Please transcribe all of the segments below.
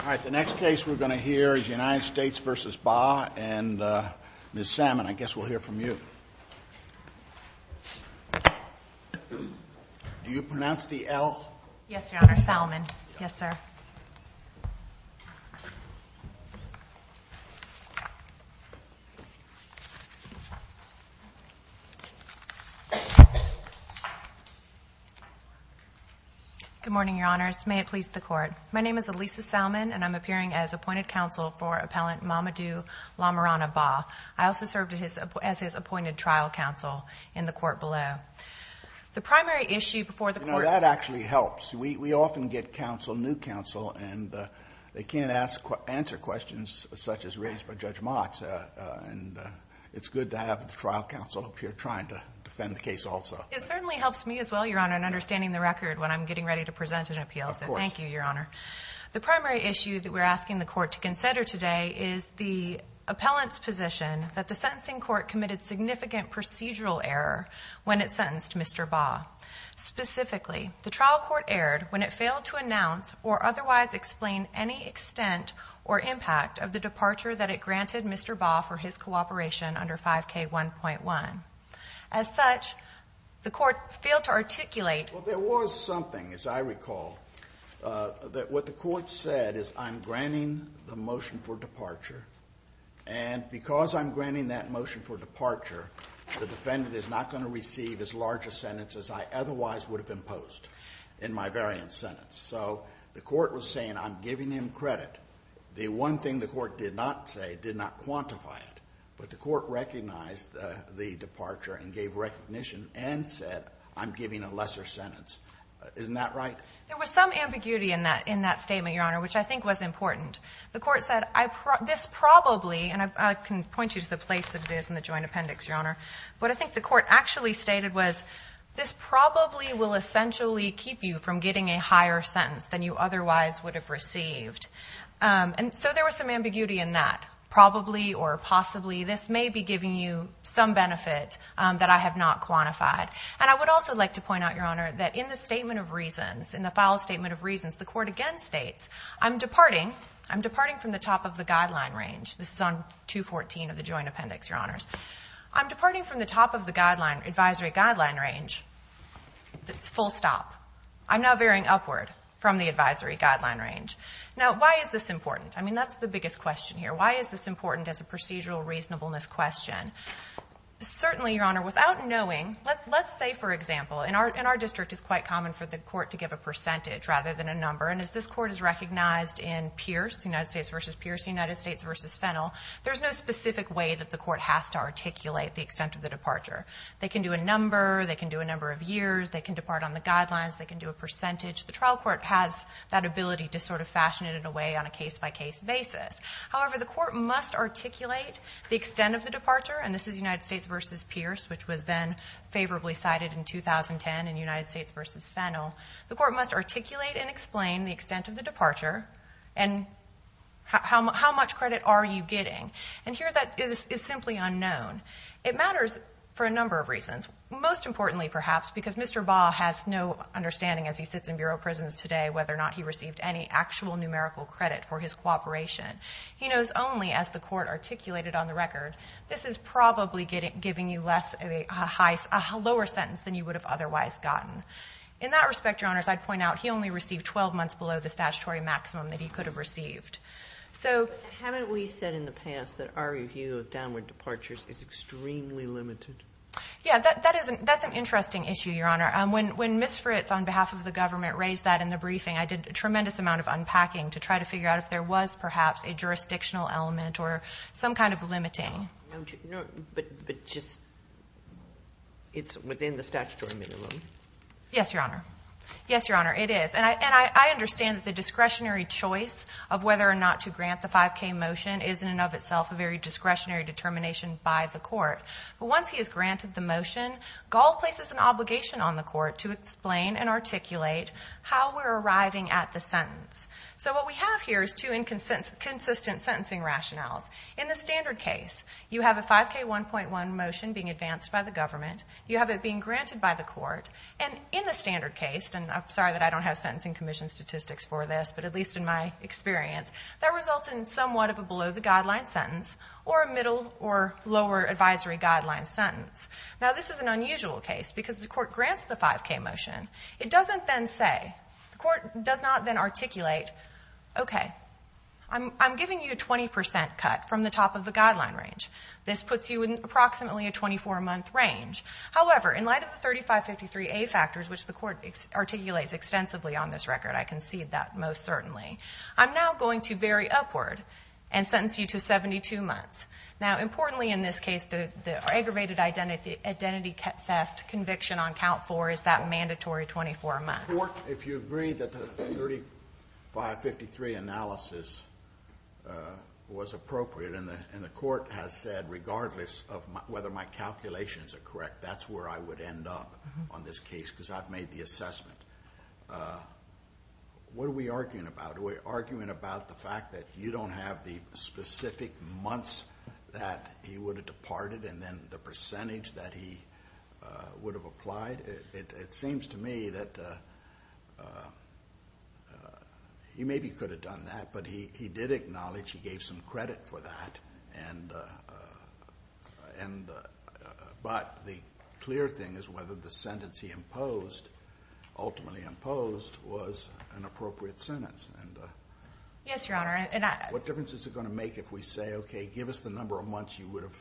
All right, the next case we're going to hear is United States v. Bah, and Ms. Salmon, I guess we'll hear from you. Do you pronounce the L? Yes, Your Honor. Salmon. Yes, sir. Good morning, Your Honors. May it please the Court. My name is Elisa Salmon, and I'm appearing as appointed counsel for Appellant Mamadou Lamarana Bah. I also served as his appointed trial counsel in the Court below. The primary issue before the Court You know, that actually helps. We often get counsel, new counsel, and they can't answer questions such as raised by Judge Motz, and it's good to have the trial counsel up here trying to defend the case also. It certainly helps me as well, Your Honor, in understanding the record when I'm getting ready to present an appeal. Of course. Thank you, Your Honor. The primary issue that we're asking the Court to consider today is the appellant's position that the sentencing court committed significant procedural error when it sentenced Mr. Bah. Specifically, the trial court erred when it failed to announce or otherwise explain any extent or impact of the departure that it granted Mr. Bah for his cooperation under 5K1.1. As such, the Court failed to articulate Well, there was something, as I recall, that what the Court said is I'm granting the motion for departure, the defendant is not going to receive as large a sentence as I otherwise would have imposed in my variant sentence. So the Court was saying I'm giving him credit. The one thing the Court did not say, did not quantify it, but the Court recognized the departure and gave recognition and said I'm giving a lesser sentence. Isn't that right? There was some ambiguity in that statement, Your Honor, which I think was important. The Court said this probably, and I can point you to the place that it is in the joint appendix, Your Honor, what I think the Court actually stated was this probably will essentially keep you from getting a higher sentence than you otherwise would have received. And so there was some ambiguity in that. Probably or possibly this may be giving you some benefit that I have not quantified. And I would also like to point out, Your Honor, that in the statement of reasons, in the file statement of reasons, the Court again states I'm departing. I'm departing from the top of the guideline range. This is on 214 of the joint appendix, Your Honors. I'm departing from the top of the advisory guideline range. It's full stop. I'm now veering upward from the advisory guideline range. Now, why is this important? I mean, that's the biggest question here. Why is this important as a procedural reasonableness question? Certainly, Your Honor, without knowing, let's say, for example, in our district it's quite common for the Court to give a percentage rather than a number. And as this Court has recognized in Pierce, United States v. Pierce, United States v. Fennell, there's no specific way that the Court has to articulate the extent of the departure. They can do a number. They can do a number of years. They can depart on the guidelines. They can do a percentage. The trial court has that ability to sort of fashion it in a way on a case-by-case basis. However, the Court must articulate the extent of the departure, and this is United States v. Pierce, which was then favorably cited in 2010 in United States v. Fennell. The Court must articulate and explain the extent of the departure and how much credit are you getting. And here that is simply unknown. It matters for a number of reasons, most importantly, perhaps, because Mr. Baugh has no understanding as he sits in Bureau of Prisons today whether or not he received any actual numerical credit for his cooperation. He knows only, as the Court articulated on the record, this is probably giving you a lower sentence than you would have otherwise gotten. In that respect, Your Honors, I'd point out he only received 12 months below the statutory maximum that he could have received. Haven't we said in the past that our review of downward departures is extremely limited? Yeah, that's an interesting issue, Your Honor. When Ms. Fritz, on behalf of the government, raised that in the briefing, I did a tremendous amount of unpacking to try to figure out if there was, perhaps, a jurisdictional element or some kind of limiting. But just it's within the statutory minimum? Yes, Your Honor. Yes, Your Honor, it is. And I understand that the discretionary choice of whether or not to grant the 5K motion is in and of itself a very discretionary determination by the Court. But once he has granted the motion, Gall places an obligation on the Court to explain and articulate how we're arriving at the sentence. So what we have here is two inconsistent sentencing rationales. In the standard case, you have a 5K 1.1 motion being advanced by the government. You have it being granted by the Court. And in the standard case, and I'm sorry that I don't have sentencing commission statistics for this, but at least in my experience, that results in somewhat of a below-the-guideline sentence or a middle or lower advisory guideline sentence. Now, this is an unusual case because the Court grants the 5K motion. It doesn't then say, the Court does not then articulate, okay, I'm giving you a 20 percent cut from the top of the guideline range. This puts you in approximately a 24-month range. However, in light of the 3553A factors, which the Court articulates extensively on this record, I concede that most certainly, I'm now going to vary upward and sentence you to 72 months. Now, importantly in this case, the aggravated identity theft conviction on count four is that mandatory 24 months. The Court, if you agree that the 3553 analysis was appropriate, and the Court has said regardless of whether my calculations are correct, that's where I would end up on this case because I've made the assessment. What are we arguing about? Are we arguing about the fact that you don't have the specific months that he would have departed and then the percentage that he would have applied? It seems to me that he maybe could have done that, but he did acknowledge he gave some credit for that. But the clear thing is whether the sentence he ultimately imposed was an appropriate sentence. Yes, Your Honor. What difference is it going to make if we say, okay, give us the number of months you would have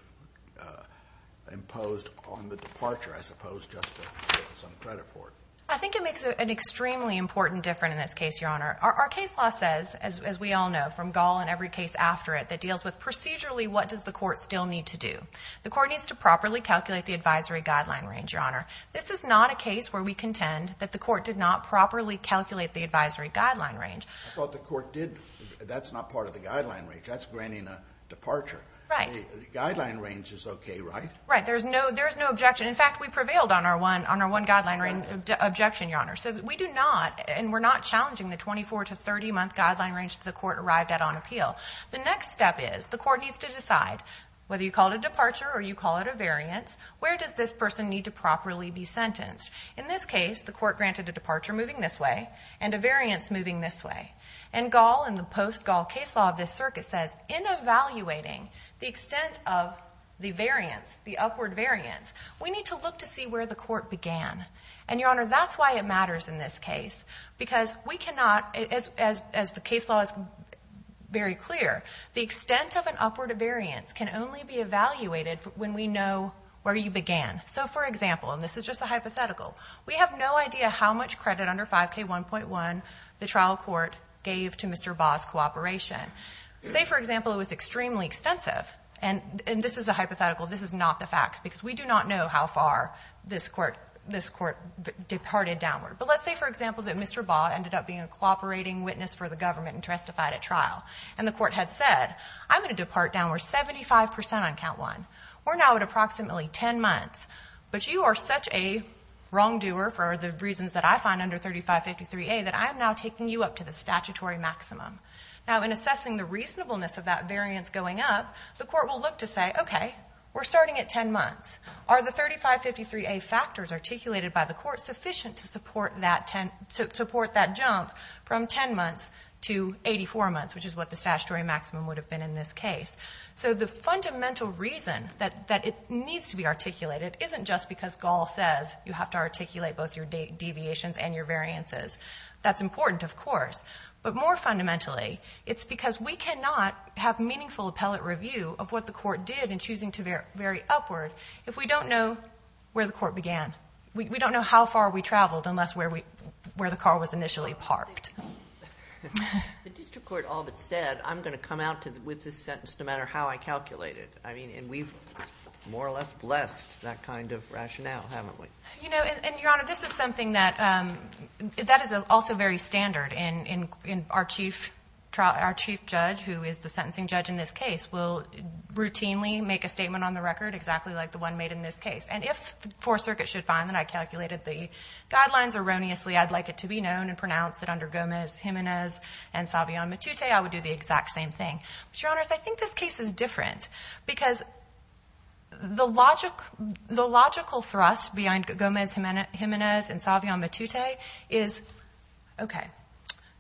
imposed on the departure, I suppose, just to get some credit for it? I think it makes an extremely important difference in this case, Your Honor. Our case law says, as we all know, from Gall and every case after it, that deals with procedurally what does the Court still need to do. The Court needs to properly calculate the advisory guideline range, Your Honor. This is not a case where we contend that the Court did not properly calculate the advisory guideline range. I thought the Court did. That's not part of the guideline range. That's granting a departure. Right. The guideline range is okay, right? Right. There's no objection. In fact, we prevailed on our one guideline objection, Your Honor. So we do not, and we're not challenging the 24- to 30-month guideline range that the Court arrived at on appeal. The next step is the Court needs to decide, whether you call it a departure or you call it a variance, where does this person need to properly be sentenced? In this case, the Court granted a departure moving this way and a variance moving this way. And Gall and the post-Gall case law of this circuit says, in evaluating the extent of the variance, the upward variance, we need to look to see where the Court began. And, Your Honor, that's why it matters in this case, because we cannot, as the case law is very clear, the extent of an upward variance can only be evaluated when we know where you began. So, for example, and this is just a hypothetical, we have no idea how much credit under 5K1.1 the trial court gave to Mr. Baugh's cooperation. Say, for example, it was extremely extensive, and this is a hypothetical. This is not the facts, because we do not know how far this Court departed downward. But let's say, for example, that Mr. Baugh ended up being a cooperating witness for the government and testified at trial, and the Court had said, I'm going to depart downward 75 percent on count one. We're now at approximately 10 months, but you are such a wrongdoer for the reasons that I find under 3553A that I am now taking you up to the statutory maximum. Now, in assessing the reasonableness of that variance going up, the Court will look to say, okay, we're starting at 10 months. Are the 3553A factors articulated by the Court sufficient to support that jump from 10 months to 84 months, which is what the statutory maximum would have been in this case? So the fundamental reason that it needs to be articulated isn't just because Gaul says you have to articulate both your deviations and your variances. That's important, of course. But more fundamentally, it's because we cannot have meaningful appellate review of what the Court did in choosing to vary upward if we don't know where the Court began. We don't know how far we traveled unless where the car was initially parked. The district court all but said, I'm going to come out with this sentence no matter how I calculate it. I mean, and we've more or less blessed that kind of rationale, haven't we? You know, and, Your Honor, this is something that is also very standard. Our chief judge, who is the sentencing judge in this case, will routinely make a statement on the record exactly like the one made in this case. And if the Fourth Circuit should find that I calculated the guidelines erroneously, I'd like it to be known and pronounced that under Gomez, Jimenez, and Savion Matute, I would do the exact same thing. But, Your Honors, I think this case is different because the logical thrust behind Gomez, Jimenez, and Savion Matute is, okay,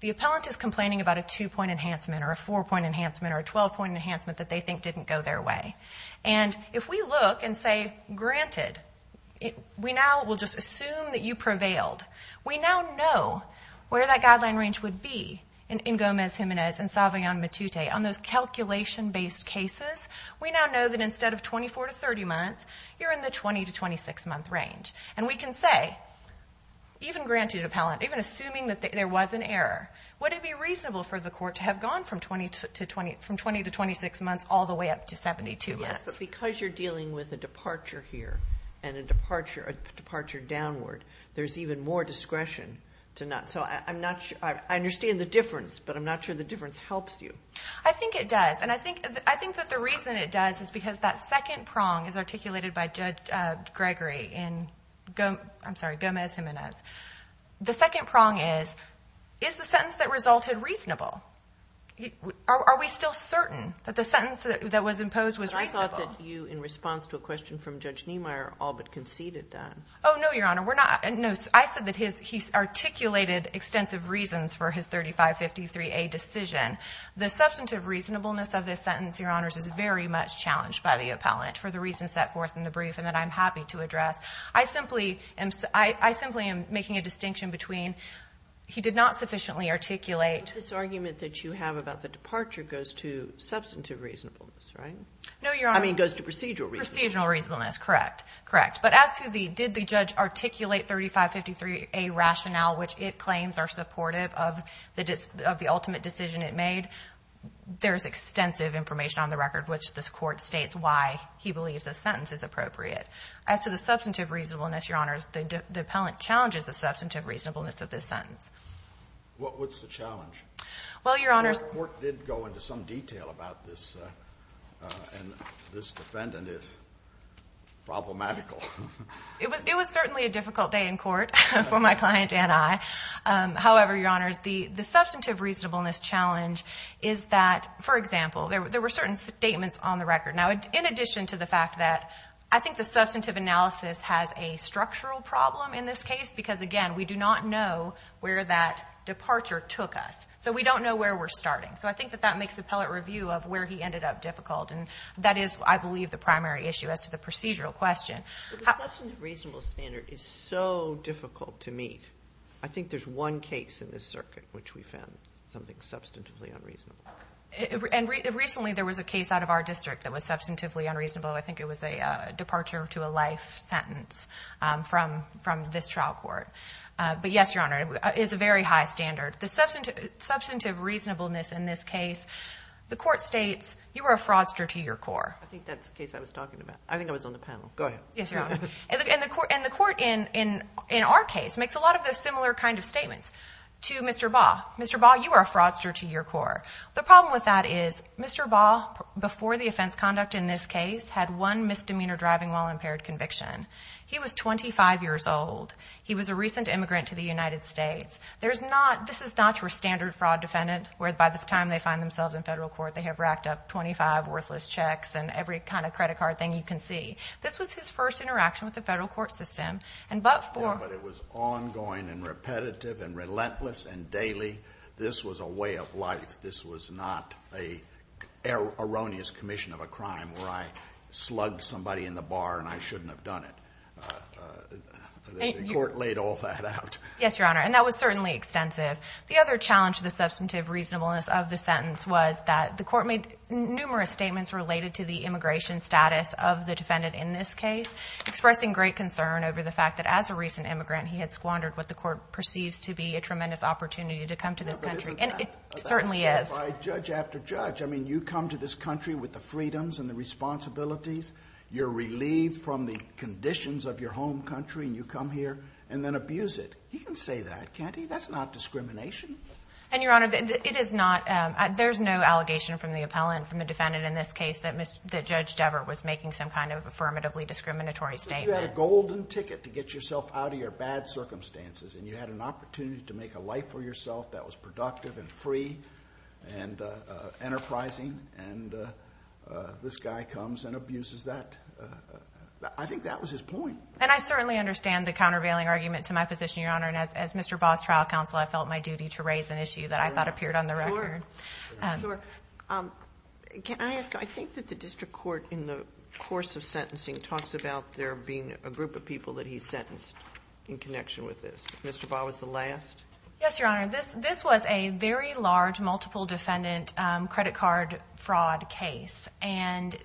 the appellant is complaining about a two-point enhancement or a four-point enhancement or a 12-point enhancement that they think didn't go their way. And if we look and say, granted, we now will just assume that you prevailed, we now know where that guideline range would be in Gomez, Jimenez, and Savion Matute. On those calculation-based cases, we now know that instead of 24 to 30 months, you're in the 20 to 26-month range. And we can say, even granted appellant, even assuming that there was an error, would it be reasonable for the court to have gone from 20 to 26 months all the way up to 72 months? Yes, but because you're dealing with a departure here and a departure downward, there's even more discretion to not. So I understand the difference, but I'm not sure the difference helps you. I think it does. And I think that the reason it does is because that second prong is articulated by Judge Gregory in Gomez, Jimenez. The second prong is, is the sentence that resulted reasonable? Are we still certain that the sentence that was imposed was reasonable? I thought that you, in response to a question from Judge Niemeyer, all but conceded that. Oh, no, Your Honor, we're not. No, I said that he articulated extensive reasons for his 3553A decision. The substantive reasonableness of this sentence, Your Honors, is very much challenged by the appellant for the reasons set forth in the brief and that I'm happy to address. I simply am making a distinction between he did not sufficiently articulate. But this argument that you have about the departure goes to substantive reasonableness, right? No, Your Honor. I mean, it goes to procedural reasonableness. Procedural reasonableness, correct, correct. But as to the did the judge articulate 3553A rationale, which it claims are supportive of the ultimate decision it made, there is extensive information on the record which this Court states why he believes this sentence is appropriate. As to the substantive reasonableness, Your Honors, the appellant challenges the substantive reasonableness of this sentence. What's the challenge? Well, Your Honors, the Court did go into some detail about this and this defendant is problematical. It was certainly a difficult day in court for my client and I. However, Your Honors, the substantive reasonableness challenge is that, for example, there were certain statements on the record. Now, in addition to the fact that I think the substantive analysis has a structural problem in this case because, again, we do not know where that departure took us. So we don't know where we're starting. So I think that that makes the appellate review of where he ended up difficult and that is, I believe, the primary issue as to the procedural question. But the substantive reasonableness standard is so difficult to meet. I think there's one case in this circuit which we found something substantively unreasonable. And recently there was a case out of our district that was substantively unreasonable. I think it was a departure to a life sentence from this trial court. But, yes, Your Honor, it's a very high standard. The substantive reasonableness in this case, the court states, you are a fraudster to your core. I think that's the case I was talking about. I think I was on the panel. Go ahead. Yes, Your Honor. And the court in our case makes a lot of those similar kind of statements to Mr. Baugh. Mr. Baugh, you are a fraudster to your core. The problem with that is Mr. Baugh, before the offense conduct in this case, had one misdemeanor driving while impaired conviction. He was 25 years old. He was a recent immigrant to the United States. This is not your standard fraud defendant where, by the time they find themselves in federal court, they have racked up 25 worthless checks and every kind of credit card thing you can see. This was his first interaction with the federal court system. But it was ongoing and repetitive and relentless and daily. This was a way of life. This was not an erroneous commission of a crime where I slugged somebody in the bar and I shouldn't have done it. The court laid all that out. Yes, Your Honor. And that was certainly extensive. The other challenge to the substantive reasonableness of the sentence was that the court made numerous statements related to the immigration status of the defendant in this case, expressing great concern over the fact that as a recent immigrant, he had squandered what the court perceives to be a tremendous opportunity to come to this country. And it certainly is. But isn't that by judge after judge? I mean, you come to this country with the freedoms and the responsibilities. You're relieved from the conditions of your home country and you come here and then abuse it. He can say that, can't he? That's not discrimination. And, Your Honor, it is not. There's no allegation from the appellant, from the defendant in this case, that Judge Devert was making some kind of affirmatively discriminatory statement. But you had a golden ticket to get yourself out of your bad circumstances and you had an opportunity to make a life for yourself that was productive and free and enterprising. And this guy comes and abuses that. I think that was his point. And I certainly understand the countervailing argument to my position, Your Honor. And as Mr. Baugh's trial counsel, I felt my duty to raise an issue that I thought appeared on the record. Sure. Can I ask, I think that the district court in the course of sentencing talks about there being a group of people that he sentenced in connection with this. Mr. Baugh was the last? Yes, Your Honor. This was a very large multiple defendant credit card fraud case. And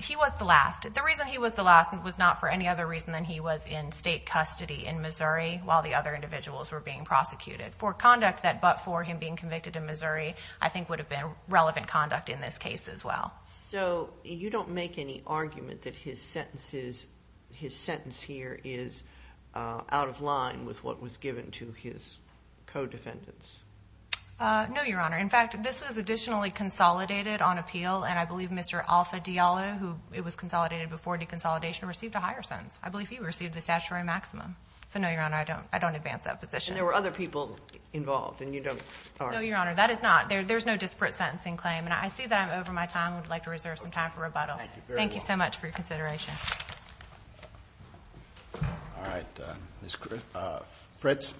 he was the last. The reason he was the last was not for any other reason than he was in state custody in Missouri while the other individuals were being prosecuted. For conduct that, but for him being convicted in Missouri, I think would have been relevant conduct in this case as well. So you don't make any argument that his sentence here is out of line with what was given to his co-defendants? No, Your Honor. In fact, this was additionally consolidated on appeal, and I believe Mr. Alpha Diallo, who it was consolidated before deconsolidation, received a higher sentence. I believe he received the statutory maximum. So no, Your Honor, I don't advance that position. And there were other people involved, and you don't? No, Your Honor, that is not. There's no disparate sentencing claim. And I see that I'm over my time. I would like to reserve some time for rebuttal. Thank you very much. Thank you so much for your consideration. All right, Ms. Fritz.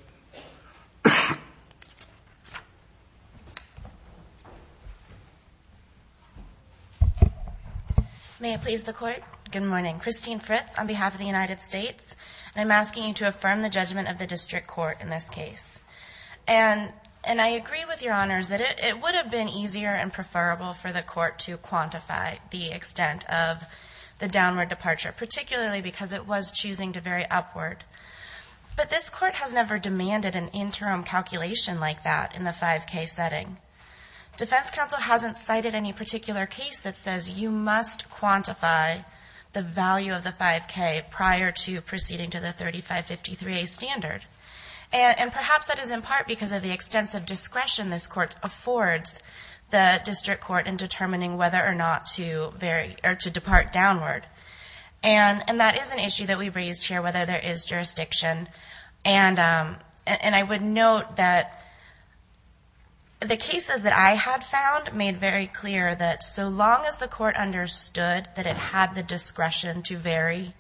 May it please the Court? Good morning. Christine Fritz on behalf of the United States, and I'm asking you to affirm the judgment of the district court in this case. And I agree with Your Honors that it would have been easier and preferable for the court to quantify the extent of the downward departure, particularly because it was choosing to very upward. But this court has never demanded an interim calculation like that in the 5K setting. Defense counsel hasn't cited any particular case that says you must quantify the value of the 5K prior to proceeding to the 3553A standard. And perhaps that is in part because of the extensive discretion this court affords the district court in determining whether or not to depart downward. And that is an issue that we've raised here, whether there is jurisdiction. And I would note that the cases that I had found made very clear that so long as the court understood that it had the discretion to vary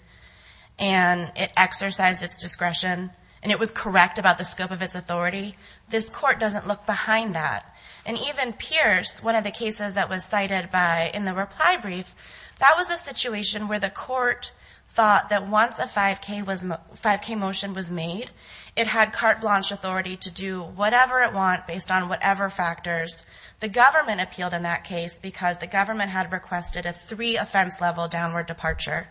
and it exercised its discretion and it was correct about the scope of its authority, this court doesn't look behind that. And even Pierce, one of the cases that was cited in the reply brief, that was a situation where the court thought that once a 5K motion was made, it had carte blanche authority to do whatever it wants based on whatever factors. The government appealed in that case because the government had requested a three offense level downward departure.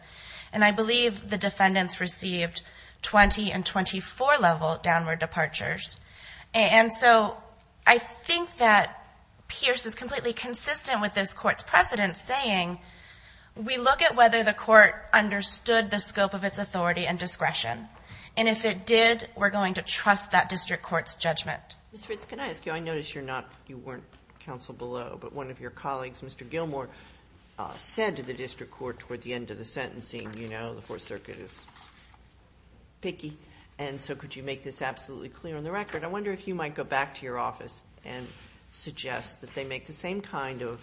And I believe the defendants received 20 and 24 level downward departures. And so I think that Pierce is completely consistent with this court's precedent, saying we look at whether the court understood the scope of its authority and discretion. And if it did, we're going to trust that district court's judgment. Ms. Fitts, can I ask you, I notice you're not, you weren't counsel below, but one of your colleagues, Mr. Gilmour, said to the district court toward the end of the sentencing, you know, the Fourth Circuit is picky, and so could you make this absolutely clear on the record? I wonder if you might go back to your office and suggest that they make the same kind of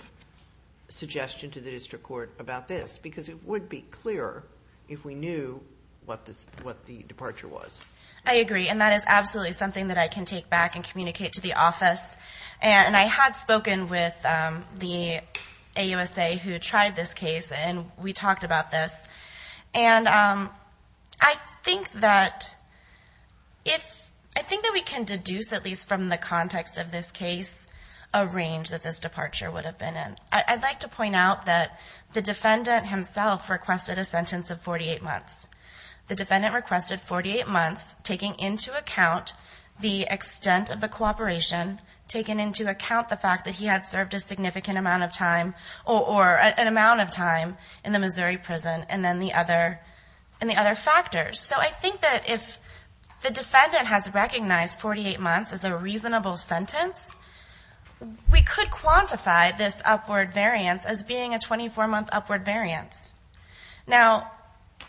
suggestion to the district court about this, because it would be clearer if we knew what the departure was. I agree, and that is absolutely something that I can take back and communicate to the office. And I had spoken with the AUSA who tried this case, and we talked about this. And I think that if we can deduce, at least from the context of this case, a range that this departure would have been in. I'd like to point out that the defendant himself requested a sentence of 48 months. The defendant requested 48 months, taking into account the extent of the cooperation, taking into account the fact that he had served a significant amount of time, or an amount of time in the Missouri prison, and then the other factors. So I think that if the defendant has recognized 48 months as a reasonable sentence, we could quantify this upward variance as being a 24-month upward variance. Now,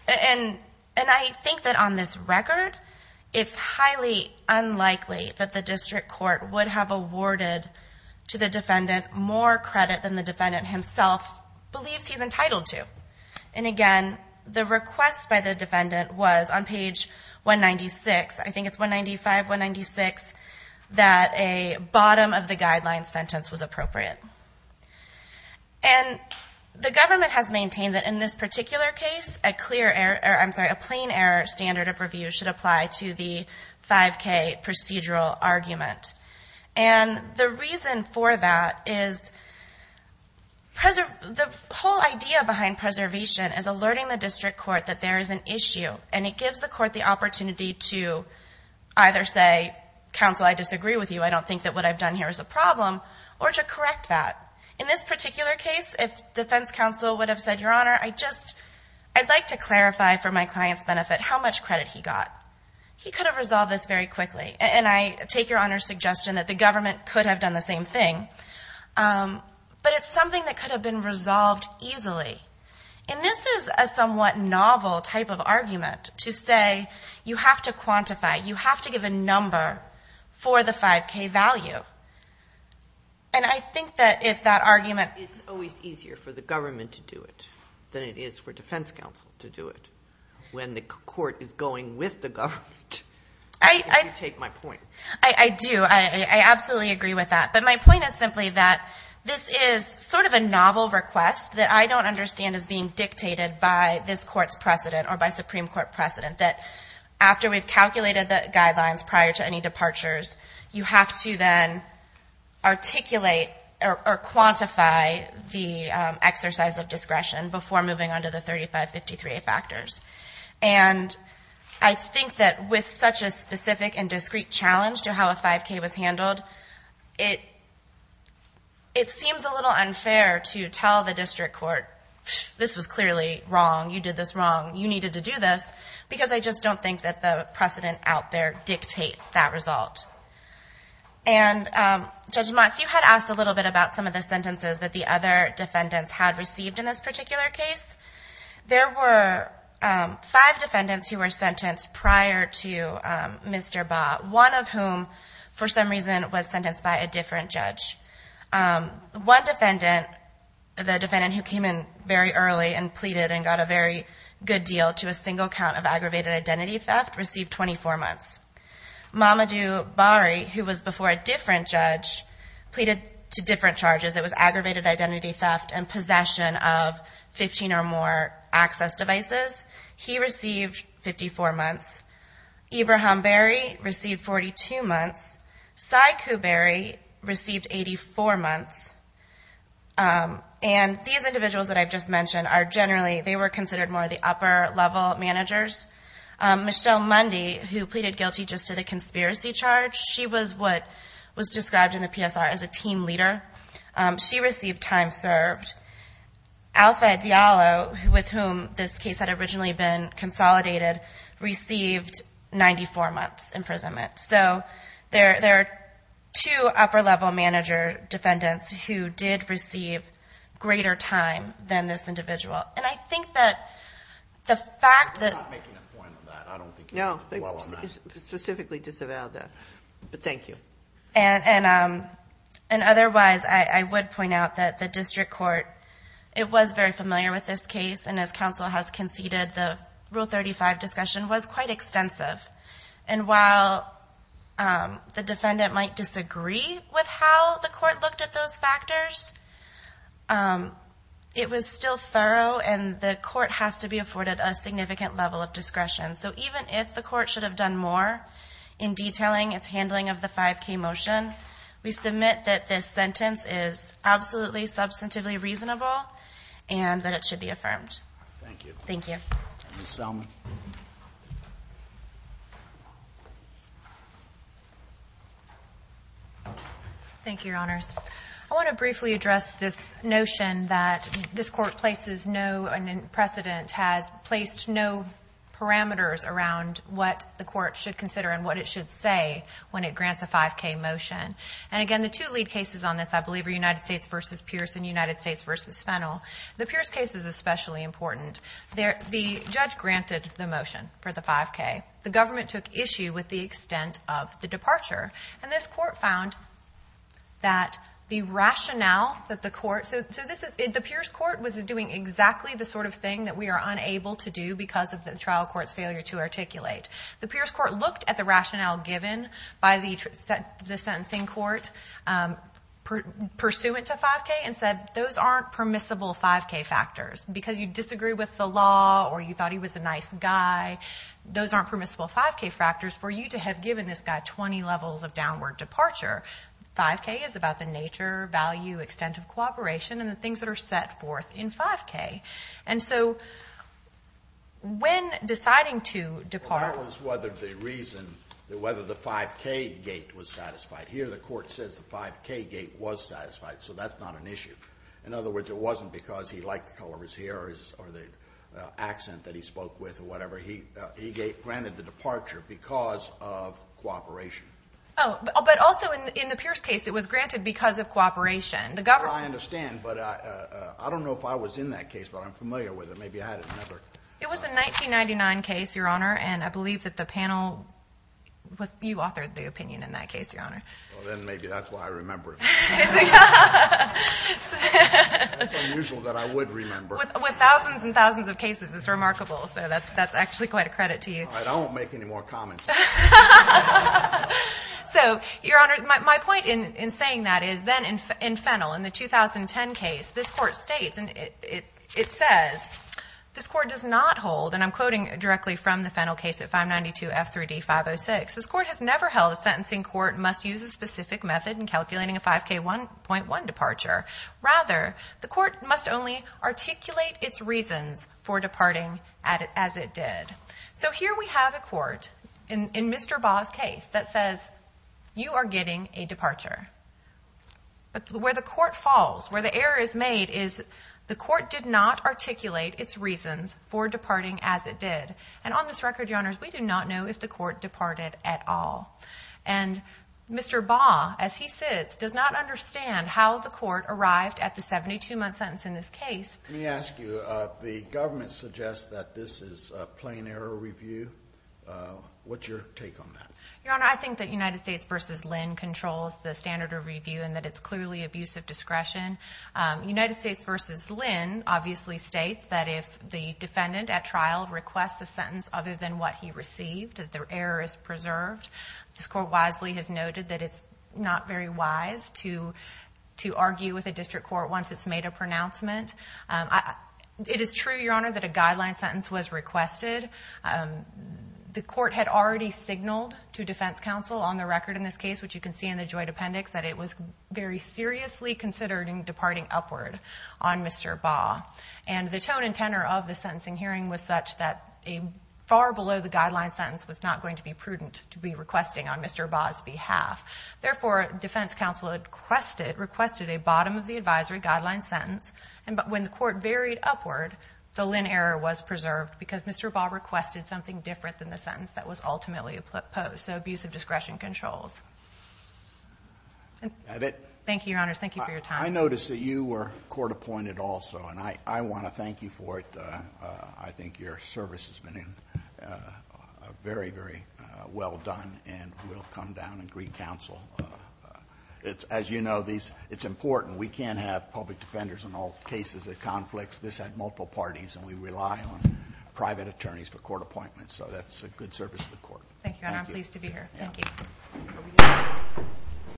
and I think that on this record, it's highly unlikely that the district court would have awarded to the defendant more credit than the defendant himself believes he's entitled to. And again, the request by the defendant was on page 196, I think it's 195, 196, that a bottom-of-the-guideline sentence was appropriate. And the government has maintained that in this particular case, a plain error standard of review should apply to the 5K procedural argument. And the reason for that is the whole idea behind preservation is alerting the district court that there is an issue, and it gives the court the opportunity to either say, what I've done here is a problem, or to correct that. In this particular case, if defense counsel would have said, Your Honor, I'd like to clarify for my client's benefit how much credit he got. He could have resolved this very quickly. And I take Your Honor's suggestion that the government could have done the same thing. But it's something that could have been resolved easily. And this is a somewhat novel type of argument to say you have to quantify, you have to give a number for the 5K value. And I think that if that argument- It's always easier for the government to do it than it is for defense counsel to do it. When the court is going with the government. You take my point. I do. I absolutely agree with that. But my point is simply that this is sort of a novel request that I don't understand is being dictated by this court's precedent or by Supreme Court precedent, that after we've calculated the guidelines prior to any departures, you have to then articulate or quantify the exercise of discretion before moving on to the 3553A factors. And I think that with such a specific and discrete challenge to how a 5K was handled, it seems a little unfair to tell the district court, This was clearly wrong. You did this wrong. You needed to do this. Because I just don't think that the precedent out there dictates that result. And Judge Motts, you had asked a little bit about some of the sentences that the other defendants had received in this particular case. There were five defendants who were sentenced prior to Mr. Baugh, one of whom, for some reason, was sentenced by a different judge. One defendant, the defendant who came in very early and pleaded and got a very good deal to a single count of aggravated identity theft, received 24 months. Mamadou Bari, who was before a different judge, pleaded to different charges. It was aggravated identity theft and possession of 15 or more access devices. He received 54 months. Ibraham Berry received 42 months. Sai Kouberi received 84 months. And these individuals that I've just mentioned are generally, they were considered more the upper-level managers. Michelle Mundy, who pleaded guilty just to the conspiracy charge, she was what was described in the PSR as a team leader. She received time served. Alpha Diallo, with whom this case had originally been consolidated, received 94 months imprisonment. So there are two upper-level manager defendants who did receive greater time than this individual. And I think that the fact that – We're not making a point on that. I don't think you're doing well on that. No, specifically disavowed that. But thank you. And otherwise, I would point out that the district court, it was very familiar with this case. And as counsel has conceded, the Rule 35 discussion was quite extensive. And while the defendant might disagree with how the court looked at those factors, it was still thorough and the court has to be afforded a significant level of discretion. So even if the court should have done more in detailing its handling of the 5K motion, we submit that this sentence is absolutely substantively reasonable and that it should be affirmed. Thank you. Thank you. Ms. Selman. Thank you, Your Honors. I want to briefly address this notion that this Court places no precedent, has placed no parameters around what the Court should consider and what it should say when it grants a 5K motion. And again, the two lead cases on this, I believe, are United States v. Pierce and United States v. Fennell. The Pierce case is especially important. The judge granted the motion for the 5K. The government took issue with the extent of the departure. And this Court found that the rationale that the Court – so the Pierce Court was doing exactly the sort of thing that we are unable to do because of the trial court's failure to articulate. The Pierce Court looked at the rationale given by the sentencing court pursuant to 5K and said those aren't permissible 5K factors because you disagree with the law or you thought he was a nice guy. Those aren't permissible 5K factors for you to have given this guy 20 levels of downward departure. 5K is about the nature, value, extent of cooperation, and the things that are set forth in 5K. And so when deciding to depart – That was whether the reason – whether the 5K gate was satisfied. Here the Court says the 5K gate was satisfied, so that's not an issue. In other words, it wasn't because he liked the color of his hair or the accent that he spoke with or whatever. He granted the departure because of cooperation. Oh, but also in the Pierce case it was granted because of cooperation. I understand, but I don't know if I was in that case, but I'm familiar with it. Maybe I had it in another. It was a 1999 case, Your Honor, and I believe that the panel – you authored the opinion in that case, Your Honor. Well, then maybe that's why I remember it. That's unusual that I would remember. With thousands and thousands of cases, it's remarkable. So that's actually quite a credit to you. All right, I won't make any more comments. So, Your Honor, my point in saying that is then in Fennell, in the 2010 case, this Court states, and it says, this Court does not hold, and I'm quoting directly from the Fennell case at 592 F3D 506, this Court has never held a sentencing court must use a specific method in calculating a 5K1.1 departure. Rather, the court must only articulate its reasons for departing as it did. So here we have a court in Mr. Baugh's case that says you are getting a departure. But where the court falls, where the error is made, is the court did not articulate its reasons for departing as it did. And on this record, Your Honors, we do not know if the court departed at all. And Mr. Baugh, as he sits, does not understand how the court arrived at the 72-month sentence in this case. Let me ask you, the government suggests that this is a plain error review. What's your take on that? Your Honor, I think that United States v. Lynn controls the standard of review and that it's clearly abuse of discretion. United States v. Lynn obviously states that if the defendant at trial requests a sentence other than what he received, that the error is preserved. This Court wisely has noted that it's not very wise to argue with a district court once it's made a pronouncement. It is true, Your Honor, that a guideline sentence was requested. The court had already signaled to defense counsel on the record in this case, which you can see in the joint appendix, that it was very seriously considered in departing upward on Mr. Baugh. And the tone and tenor of the sentencing hearing was such that a far below-the-guideline sentence was not going to be prudent to be requesting on Mr. Baugh's behalf. Therefore, defense counsel requested a bottom-of-the-advisory-guideline sentence. And when the court varied upward, the Lynn error was preserved because Mr. Baugh requested something different than the sentence that was ultimately opposed, so abuse of discretion controls. Thank you, Your Honors. Thank you for your time. I notice that you were court-appointed also, and I want to thank you for it. I think your service has been very, very well done and will come down and greet counsel. As you know, it's important. We can't have public defenders in all cases of conflicts. This had multiple parties, and we rely on private attorneys for court appointments, so that's a good service to the court. Thank you, Your Honor. I'm pleased to be here. Thank you.